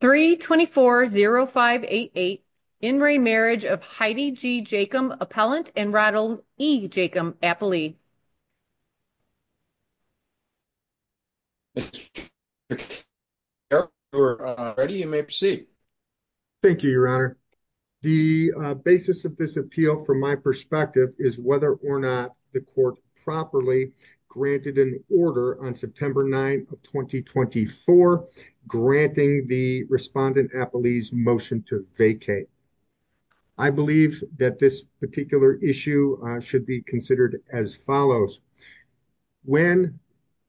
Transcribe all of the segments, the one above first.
324-0588. In re marriage of Heidi G. Jachim, appellant and Ronald E. Jachim, appellee. Yep, we're ready. You may proceed. Thank you, Your Honor. The basis of this appeal, from my perspective, is whether or not the court properly granted an order on September 9 of 2024 granting the respondent appellee's motion to vacate. I believe that this particular issue should be considered as follows. When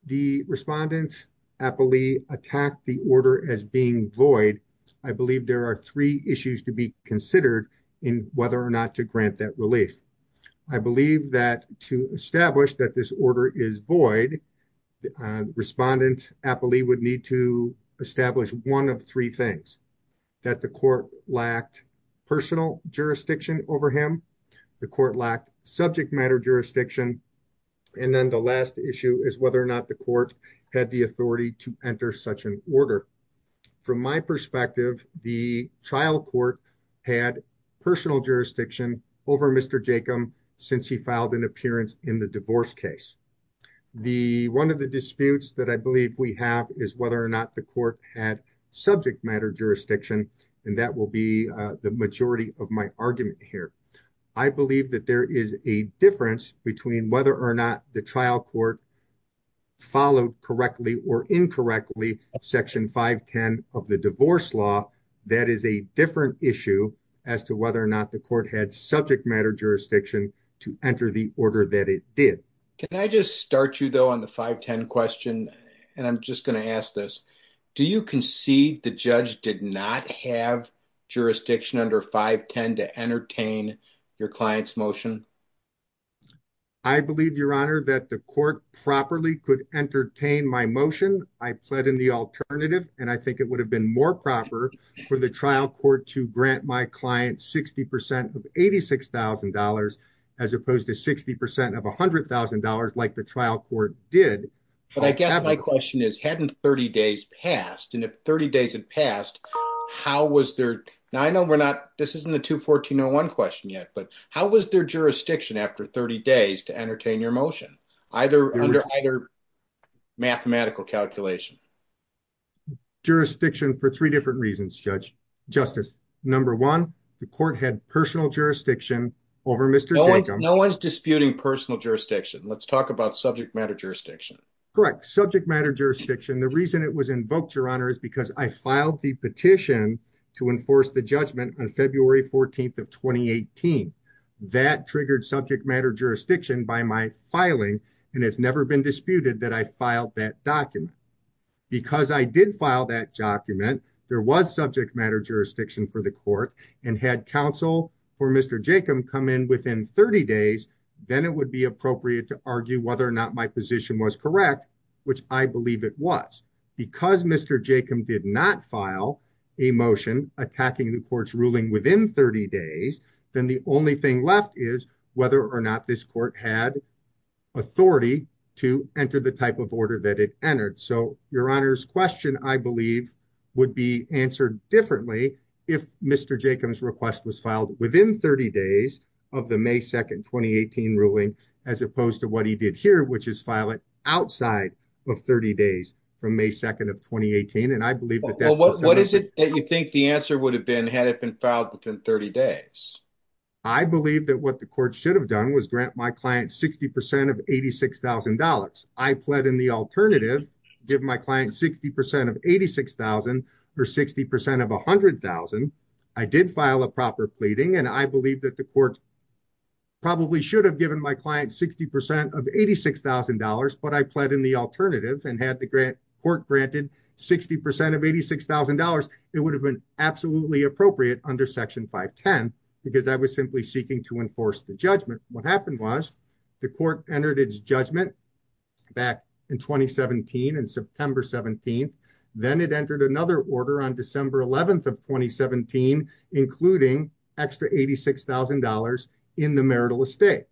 the respondent appellee attacked the order as being void, I believe there are three issues to be considered in whether or not to grant that I believe that to establish that this order is void, the respondent appellee would need to establish one of three things. That the court lacked personal jurisdiction over him, the court lacked subject matter jurisdiction, and then the last issue is whether or not the court had the authority to enter such an order. From my perspective, the trial court had personal jurisdiction over Mr. Jachim since he filed an appearance in the divorce case. One of the disputes that I believe we have is whether or not the court had subject matter jurisdiction, and that will be the majority of my argument here. I believe that there is a difference between whether or not the trial court followed correctly or incorrectly Section 510 of Divorce Law. That is a different issue as to whether or not the court had subject matter jurisdiction to enter the order that it did. Can I just start you though on the 510 question, and I'm just going to ask this. Do you concede the judge did not have jurisdiction under 510 to entertain your client's motion? I believe, your honor, that the court properly could entertain my motion. I pled in the alternative, and I think it would have been more proper for the trial court to grant my client 60% of $86,000 as opposed to 60% of $100,000 like the trial court did. But I guess my question is, hadn't 30 days passed, and if 30 days had passed, how was there, now I know we're not, this isn't the 214.01 question yet, but how was their after 30 days to entertain your motion, either under mathematical calculation? Jurisdiction for three different reasons, Justice. Number one, the court had personal jurisdiction over Mr. Jacob. No one's disputing personal jurisdiction. Let's talk about subject matter jurisdiction. Correct. Subject matter jurisdiction. The reason it was invoked, your honor, is because I filed the petition to enforce the judgment on February 14th of 2018. That triggered subject matter jurisdiction by my filing, and it's never been disputed that I filed that document. Because I did file that document, there was subject matter jurisdiction for the court, and had counsel for Mr. Jacob come in within 30 days, then it would be appropriate to argue whether or not my position was correct, which I believe it was. Because Mr. Jacob did not file a motion attacking the court's ruling within 30 days, then the only thing left is whether or not this court had authority to enter the type of order that it entered. So your honor's question, I believe, would be answered differently if Mr. Jacob's request was filed within 30 days of the May 2nd, 2018 ruling, as opposed to what he did here, which is file it outside of 30 days from May 2nd of 2018. And I believe that that's what you think the answer would have been had it been filed within 30 days. I believe that what the court should have done was grant my client 60 percent of $86,000. I pled in the alternative, give my client 60 percent of $86,000 or 60 percent of $100,000. I did file a proper pleading, and I believe that the court probably should have given my client 60 percent of $86,000, but I pled in the alternative and had the court granted 60 percent of $86,000, it would have been absolutely appropriate under Section 510, because I was simply seeking to enforce the judgment. What happened was the court entered judgment back in 2017, in September 17th, then it entered another order on December 11th of 2017, including extra $86,000 in the marital estate.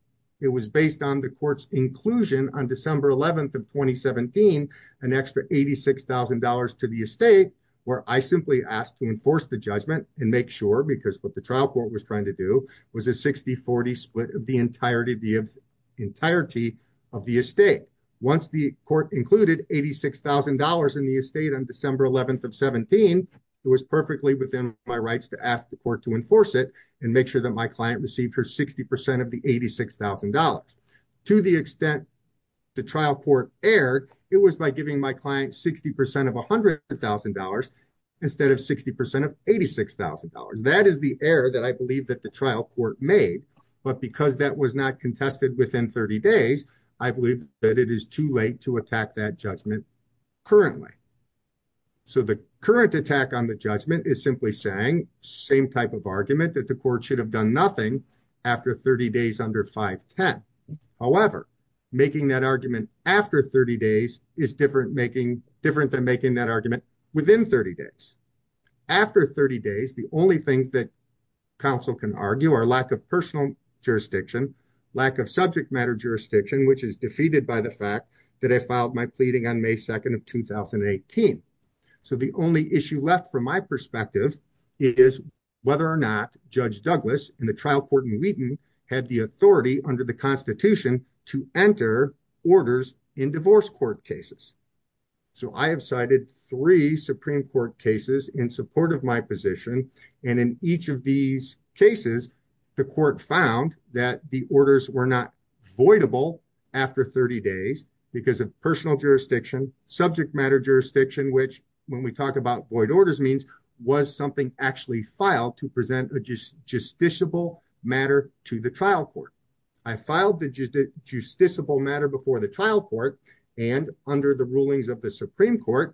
It was based on the court's inclusion on December 11th of 2017, an extra $86,000 to the estate, where I simply asked to enforce the judgment and make sure, because what the trial court was trying to do was a 60-40 split of the entirety of the estate. Once the court included $86,000 in the estate on December 11th of 2017, it was perfectly within my rights to ask the court to enforce it and make sure that my client received her 60 percent of the $86,000. To the extent the trial court erred, it was by giving my client 60 percent of $100,000 instead of 60 percent of $86,000. That is the error that I contested within 30 days. I believe that it is too late to attack that judgment currently. So the current attack on the judgment is simply saying the same type of argument, that the court should have done nothing after 30 days under 510. However, making that argument after 30 days is different than making that argument within 30 days. After 30 days, the only things that counsel can argue are lack of personal jurisdiction, lack of subject matter jurisdiction, which is defeated by the fact that I filed my pleading on May 2nd of 2018. So the only issue left from my perspective is whether or not Judge Douglas in the trial court in Wheaton had the authority under the Constitution to enter orders in divorce court cases. So I have three Supreme Court cases in support of my position, and in each of these cases, the court found that the orders were not voidable after 30 days because of personal jurisdiction, subject matter jurisdiction, which when we talk about void orders means was something actually filed to present a justiciable matter to the trial court. I filed the justiciable matter before the court, and under the rulings of the Supreme Court,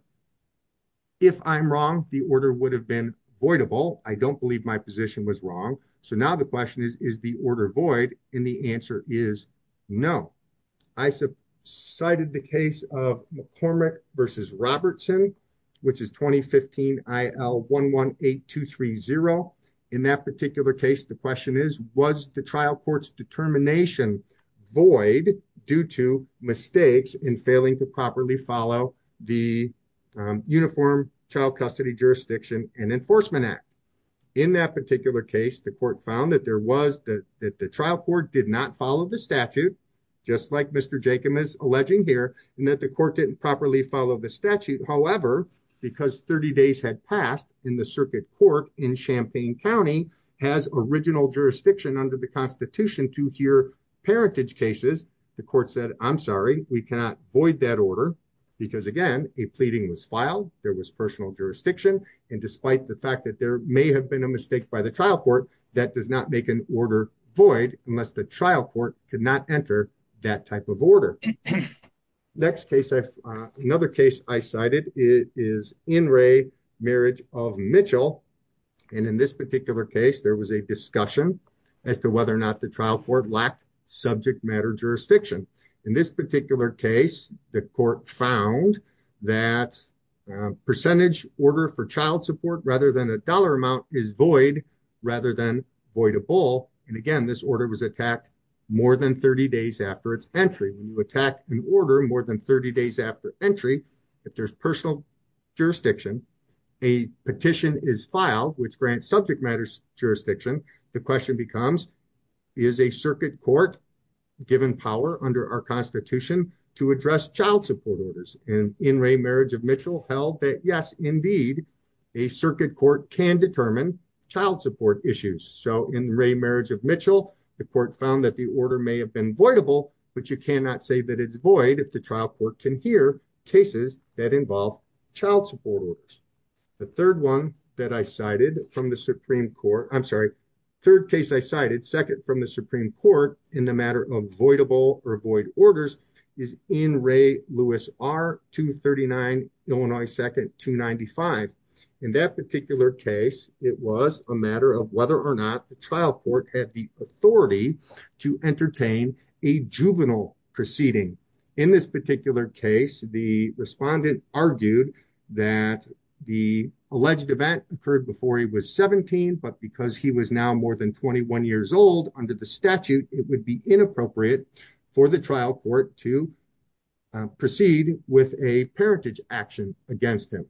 if I'm wrong, the order would have been voidable. I don't believe my position was wrong. So now the question is, is the order void? And the answer is no. I cited the case of McCormick v. Robertson, which is 2015 IL 118230. In that case, the question is, was the trial court's determination void due to mistakes in failing to properly follow the Uniform Child Custody Jurisdiction and Enforcement Act? In that particular case, the court found that the trial court did not follow the statute, just like Mr. Jacob is alleging here, and that the court didn't properly follow the statute. However, because 30 days had passed in the circuit court in Champaign County has original jurisdiction under the Constitution to hear parentage cases, the court said, I'm sorry, we cannot void that order. Because again, a pleading was filed, there was personal jurisdiction. And despite the fact that there may have been a mistake by the trial court, that does not make an order void unless the trial court could not enter that type of order. Next case, another case I cited is In re marriage of Mitchell. And in this particular case, there was a discussion as to whether or not the trial court lacked subject matter jurisdiction. In this particular case, the court found that percentage order for child support rather than a dollar amount is void rather than voidable. And again, this order was attacked more than 30 days after its entry, when you attack an order more than 30 days after entry, if there's personal jurisdiction, a petition is filed, which grants subject matters jurisdiction. The question becomes, is a circuit court given power under our Constitution to address child support orders and in re marriage of Mitchell held that yes, indeed, a circuit court can determine child support issues. So in re marriage of Mitchell, the court found that the order may have been voidable. But you cannot say that it's void if the trial court can hear cases that involve child support orders. The third one that I cited from the Supreme Court, I'm sorry, third case I cited second from the Supreme Court in the matter of voidable or void orders is in re Lewis 239, Illinois 2nd 295. In that particular case, it was a matter of whether or not the trial court had the authority to entertain a juvenile proceeding. In this particular case, the respondent argued that the alleged event occurred before he was 17. But because he was now more than 21 years old under the statute, it would be inappropriate for the trial court to proceed with a parentage action against him.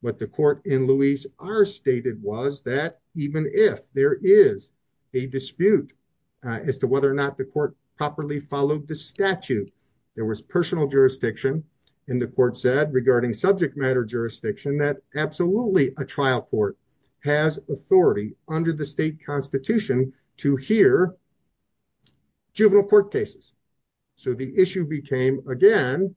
What the court in Louise are stated was that even if there is a dispute as to whether or not the court properly followed the statute, there was personal jurisdiction. And the court said regarding subject matter jurisdiction that absolutely a trial court has authority under the state constitution to hear juvenile court cases. So the issue became, again,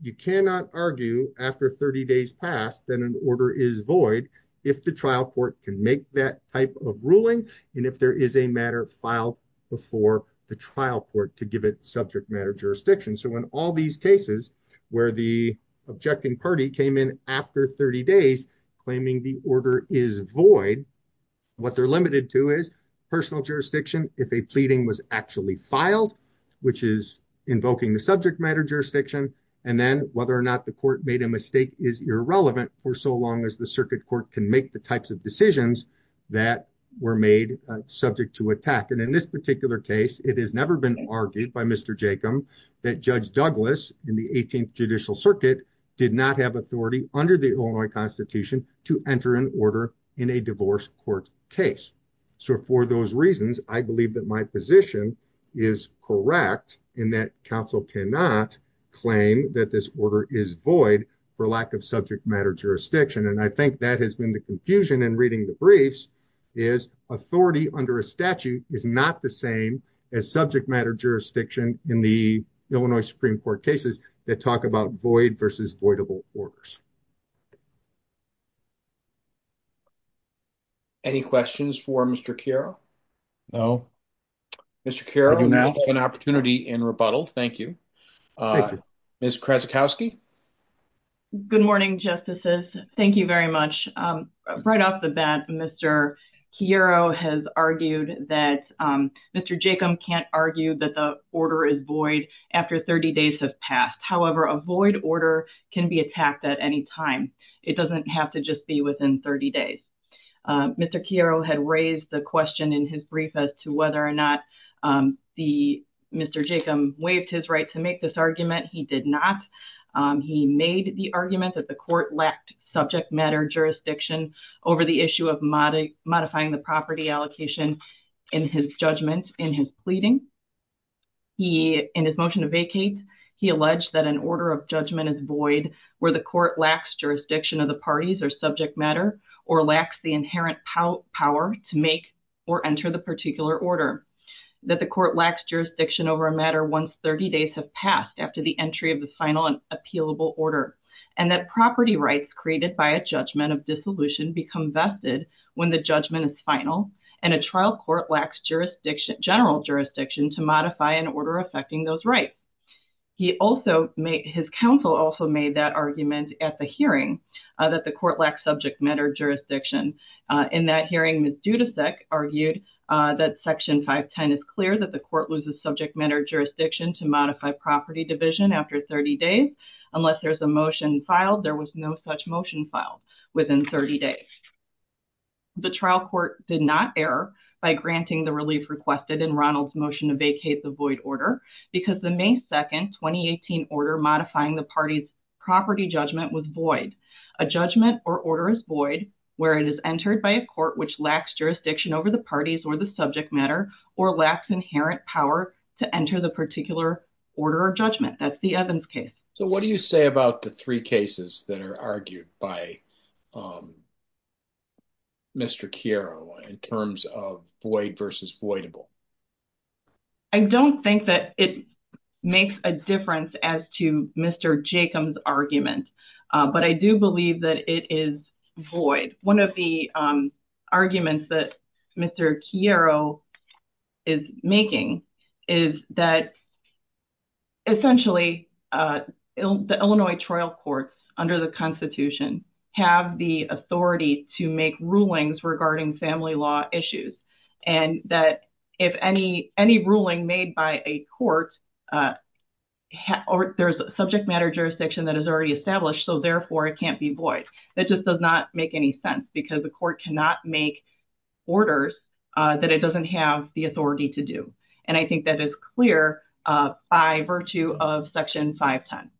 you cannot argue after 30 days past that an order is void, if the trial court can make that type of ruling. And if there is a matter filed before the trial court to give it subject matter jurisdiction. So when all these cases where the objecting party came in after 30 days, claiming the order is void, what they're limited to is personal jurisdiction if a pleading was actually filed, which is invoking the subject matter jurisdiction. And then whether or not the court made a mistake is irrelevant for so long as the circuit court can make the types of decisions that were made subject to attack. And in this particular case, it has never been argued by Mr. Jacob that Judge Douglas in the 18th Judicial Circuit did not have authority under the Illinois Constitution to enter an order in a divorce court case. So for those reasons, I believe that my position is correct in that counsel cannot claim that this order is void for lack of subject matter jurisdiction. And I think that has been the confusion in reading the briefs is authority under a statute is not the same as subject matter jurisdiction in the Illinois Supreme Court cases that talk about void versus voidable orders. Any questions for Mr. Chiaro? No. Mr. Chiaro, you now have an opportunity in rebuttal. Thank you. Ms. Krasikowski? Good morning, Justices. Thank you very much. Right off the bat, Mr. Chiaro has argued that Mr. Jacob can't argue that the order is void after 30 days have passed. However, a void order can be attacked at any time. It doesn't have to just be within 30 days. Mr. Chiaro had raised the question in his brief as to whether or not Mr. Jacob waived his right to make this argument. He did not. He made the argument that the court lacked subject matter jurisdiction over the issue of modifying the property allocation in his judgment in his pleading. In his motion to vacate, he alleged that an order of judgment is void where the court lacks jurisdiction of the parties or subject matter or lacks the inherent power to make or enter the particular order. That the court lacks jurisdiction over a matter once 30 days have passed after the entry of the final and appealable order. And that property rights created by a judgment of dissolution become vested when the judgment is final. And a trial court lacks jurisdiction, general jurisdiction to modify an order affecting those rights. He also made, his counsel also made that argument at the hearing that the court lacks subject matter jurisdiction. In that hearing, Ms. Dudasek argued that Section 510 is clear that the court loses subject matter jurisdiction to modify property division after 30 days, unless there's a motion filed. There was no such motion filed within 30 days. The trial court did not err by granting the relief requested in Ronald's motion to vacate the void order because the May 2nd, 2018 order modifying the party's property judgment was void. A judgment or order is void where it is entered by a court which lacks jurisdiction over the parties or the subject matter or lacks inherent power to enter the particular order of judgment. That's the Evans case. So what do you say about the three cases that are argued by Mr. Chiaro in terms of void versus voidable? I don't think that it makes a difference as to Mr. Jacob's argument, but I do believe that it is void. One of the arguments that Mr. Chiaro is making is that essentially the Illinois trial courts under the Constitution have the authority to make rulings regarding family law issues, and that if any ruling made by a court, there's a subject matter jurisdiction that is already so therefore it can't be void. That just does not make any sense because the court cannot make orders that it doesn't have the authority to do, and I think that is clear by virtue of Section 510.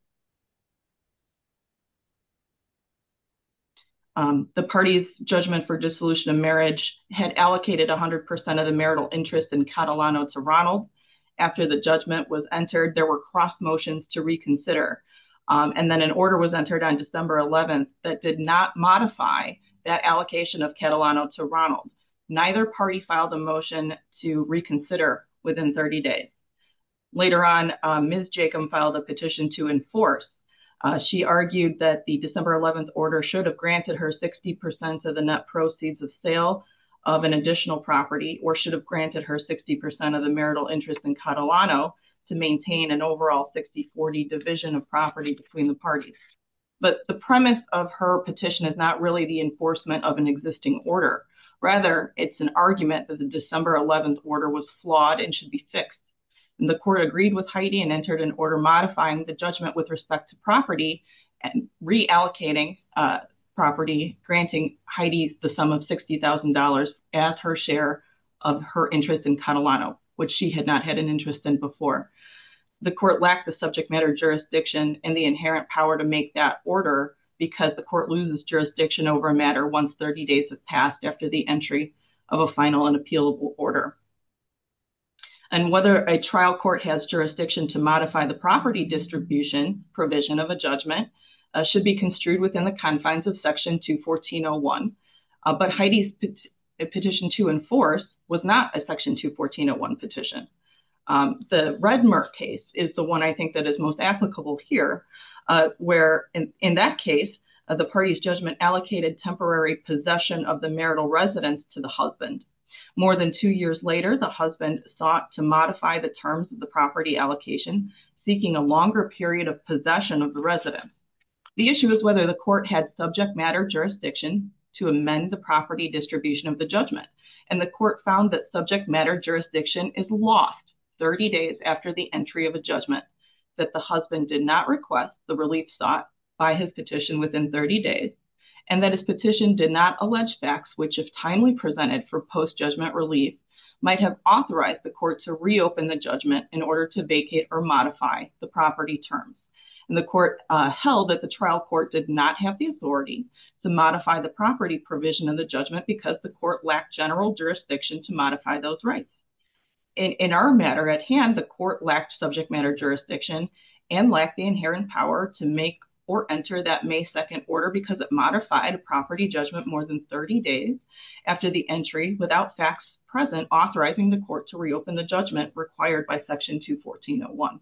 The party's judgment for dissolution of marriage had allocated 100% of the marital interest in Catalano to Ronald. After the judgment was entered, there were cross motions to reconsider, and then an order was entered on December 11th that did not modify that allocation of Catalano to Ronald. Neither party filed a motion to reconsider within 30 days. Later on, Ms. Jacob filed a petition to enforce. She argued that the December 11th order should have granted her 60% of the net proceeds of sale of an additional property or should have granted her 60% of the marital interest in Catalano to maintain an overall 60-40 division of property between the parties, but the premise of her petition is not really the enforcement of an existing order. Rather, it's an argument that the December 11th order was flawed and should be fixed, and the court agreed with Heidi and entered an order modifying the judgment with respect to reallocating property, granting Heidi the sum of $60,000 as her share of her interest in Catalano, which she had not had an interest in before. The court lacked the subject matter jurisdiction and the inherent power to make that order because the court loses jurisdiction over a matter once 30 days have passed after the entry of a final and appealable order. And whether a trial court has jurisdiction to modify the property distribution provision of a judgment should be construed within the confines of Section 214.01, but Heidi's petition to enforce was not a Section 214.01 petition. The Redmer case is the one I think that is most applicable here, where in that case the party's judgment allocated temporary possession of the marital residence to the allocation, seeking a longer period of possession of the resident. The issue is whether the court had subject matter jurisdiction to amend the property distribution of the judgment, and the court found that subject matter jurisdiction is lost 30 days after the entry of a judgment, that the husband did not request the relief sought by his petition within 30 days, and that his petition did not allege facts which, if timely presented for post-judgment relief, might have authorized the court to reopen the judgment in order to vacate or modify the property term. And the court held that the trial court did not have the authority to modify the property provision of the judgment because the court lacked general jurisdiction to modify those rights. In our matter at hand, the court lacked subject matter jurisdiction and lacked the inherent power to make or enter that May 2nd order because it modified a property judgment more than 30 days after the without facts present, authorizing the court to reopen the judgment required by Section 214.01.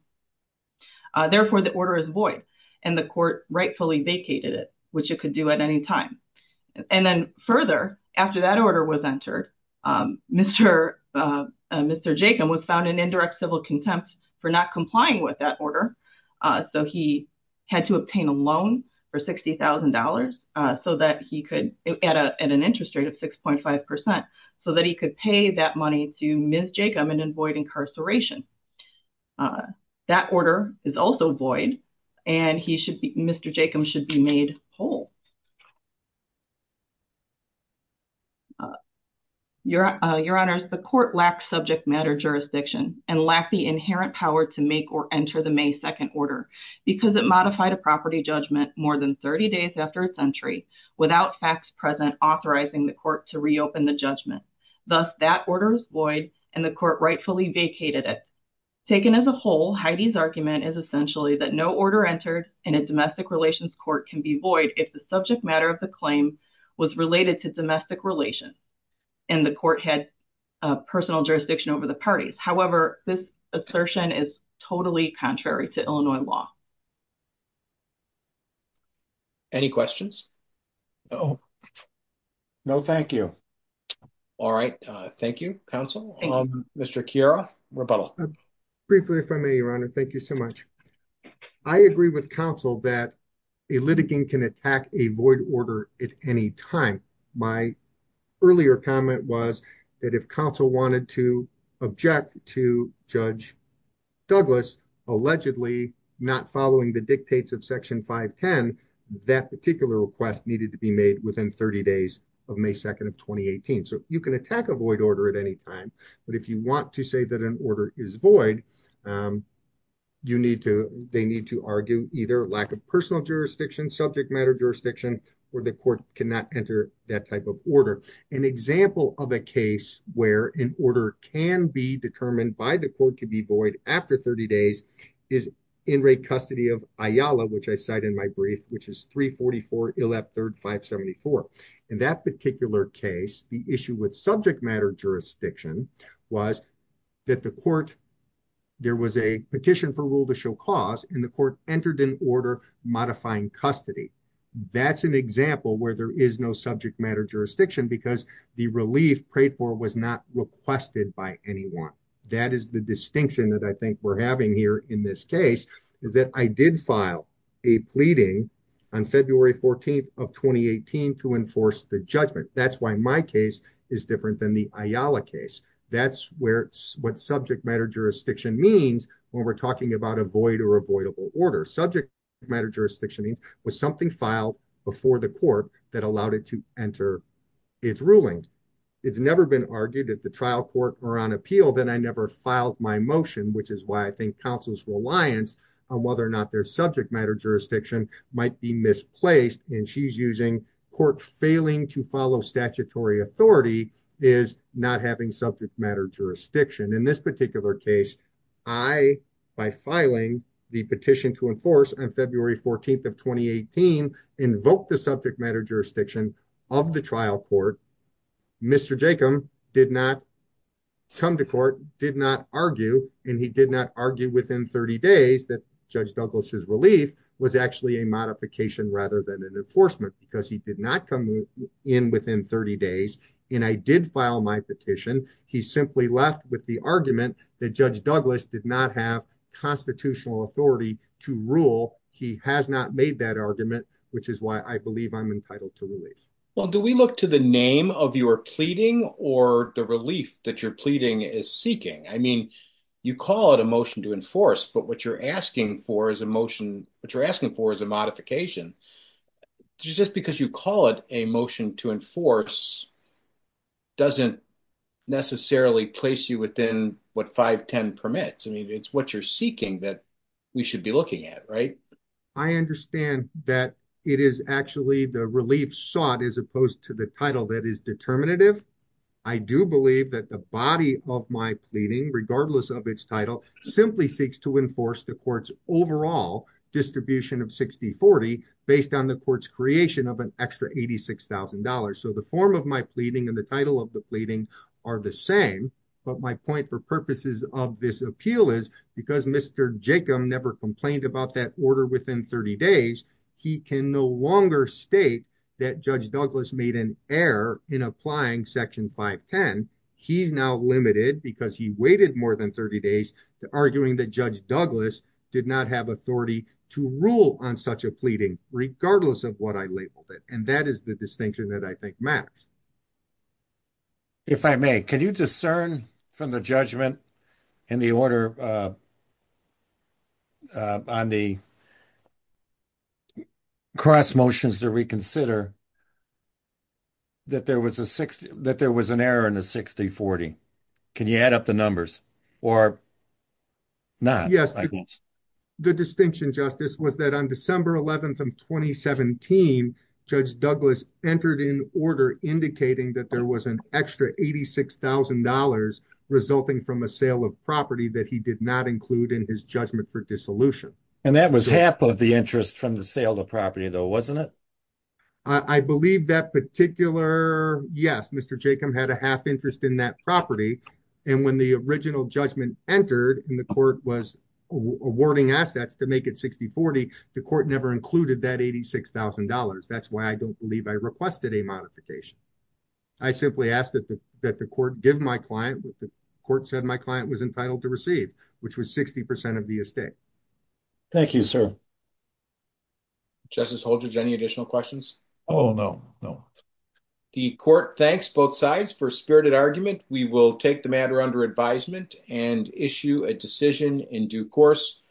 Therefore, the order is void, and the court rightfully vacated it, which it could do at any time. And then further, after that order was entered, Mr. Jacob was found in indirect civil contempt for not complying with that order, so he had to obtain a loan for $60,000 so that he could at an interest rate of 6.5% so that he could pay that money to Ms. Jacob and avoid incarceration. That order is also void, and Mr. Jacob should be made whole. Your Honors, the court lacked subject matter jurisdiction and lacked the inherent power to make or enter the May 2nd order because it modified a property judgment more than 30 days after its entry without facts present, authorizing the court to reopen the judgment. Thus, that order is void, and the court rightfully vacated it. Taken as a whole, Heidi's argument is essentially that no order entered in a domestic relations court can be void if the subject matter of the claim was related to domestic relations and the court had personal jurisdiction over the parties. However, this assertion is totally contrary to Illinois law. Any questions? No. No, thank you. All right. Thank you, counsel. Mr. Quiro, rebuttal. Briefly, if I may, Your Honor. Thank you so much. I agree with counsel that a litigant can attack a void order at any time. My earlier comment was that if counsel wanted to object to Judge Douglas allegedly not following the dictates of Section 510, that particular request needed to be made within 30 days of May 2nd of 2018. So, you can attack a void order at any time, but if you want to say that an order is void, they need to argue either lack of personal jurisdiction, subject matter jurisdiction, or the court cannot enter that type of order. An example of a case where an order can be determined by the court to be void after 30 days is in-rate custody of Ayala, which I cite in my brief, which is 344 ILEP 3rd 574. In that particular case, the issue with subject matter jurisdiction was that there was a petition for rule to show cause and the court entered an order modifying custody. That's an example where there is no subject matter jurisdiction because the relief prayed for was not requested by anyone. That is the distinction that I think we're having here in this case, is that I did file a pleading on February 14th of 2018 to enforce the judgment. That's why my case is different than the Ayala case. That's what subject matter jurisdiction means when we're talking about a void or avoidable order. Subject matter jurisdiction means was something filed before the court that allowed it to enter its ruling. It's never been argued at the trial court or on appeal that I never filed my motion, which is why I think counsel's reliance on whether or not their subject matter jurisdiction might be misplaced and she's using court failing to follow statutory authority is not having subject matter jurisdiction. In this particular case, by filing the petition to enforce on February 14th of 2018, invoked the subject matter jurisdiction of the trial court, Mr. Jacob did not come to court, did not argue, and he did not argue within 30 days that Judge Douglas's relief was actually a modification rather than an enforcement because he did not come in within 30 days and I did file my petition. He simply left with the argument that Judge to rule. He has not made that argument, which is why I believe I'm entitled to release. Well, do we look to the name of your pleading or the relief that you're pleading is seeking? I mean, you call it a motion to enforce, but what you're asking for is a motion, what you're asking for is a modification just because you call it a motion to enforce doesn't necessarily place you within what 510 permits. I mean, it's what you're seeking that we should be looking at, right? I understand that it is actually the relief sought as opposed to the title that is determinative. I do believe that the body of my pleading, regardless of its title, simply seeks to enforce the court's overall distribution of 60-40 based on the court's creation of an extra $86,000. So the form of my pleading and the title of the pleading are the same, but my point for purposes of this appeal is because Mr. Jacob never complained about that order within 30 days, he can no longer state that Judge Douglas made an error in applying section 510. He's now limited because he waited more than 30 days to arguing that Judge Douglas did not have authority to rule on such a pleading, regardless of what I labeled it. That is the distinction that I think matters. If I may, can you discern from the judgment in the order on the cross motions that we consider that there was an error in the 60-40? Can you add up the numbers or not? Yes. The distinction, Justice, was that on December 11th of 2017, Judge Douglas entered in order indicating that there was an extra $86,000 resulting from a sale of property that he did not include in his judgment for dissolution. And that was half of the interest from the sale of property, though, wasn't it? I believe that particular, yes, Mr. Jacob had a half interest in that property, and when the original judgment entered and the court was awarding assets to make it 60-40, the court never included that $86,000. That's why I don't believe I requested a modification. I simply asked that the court give my client what the court said my client was entitled to receive, which was 60% of the estate. Thank you, sir. Justice Holdredge, any additional questions? Oh, no, no. The court thanks both sides for their spirited argument. We will take the matter under advisement and issue a decision in due course.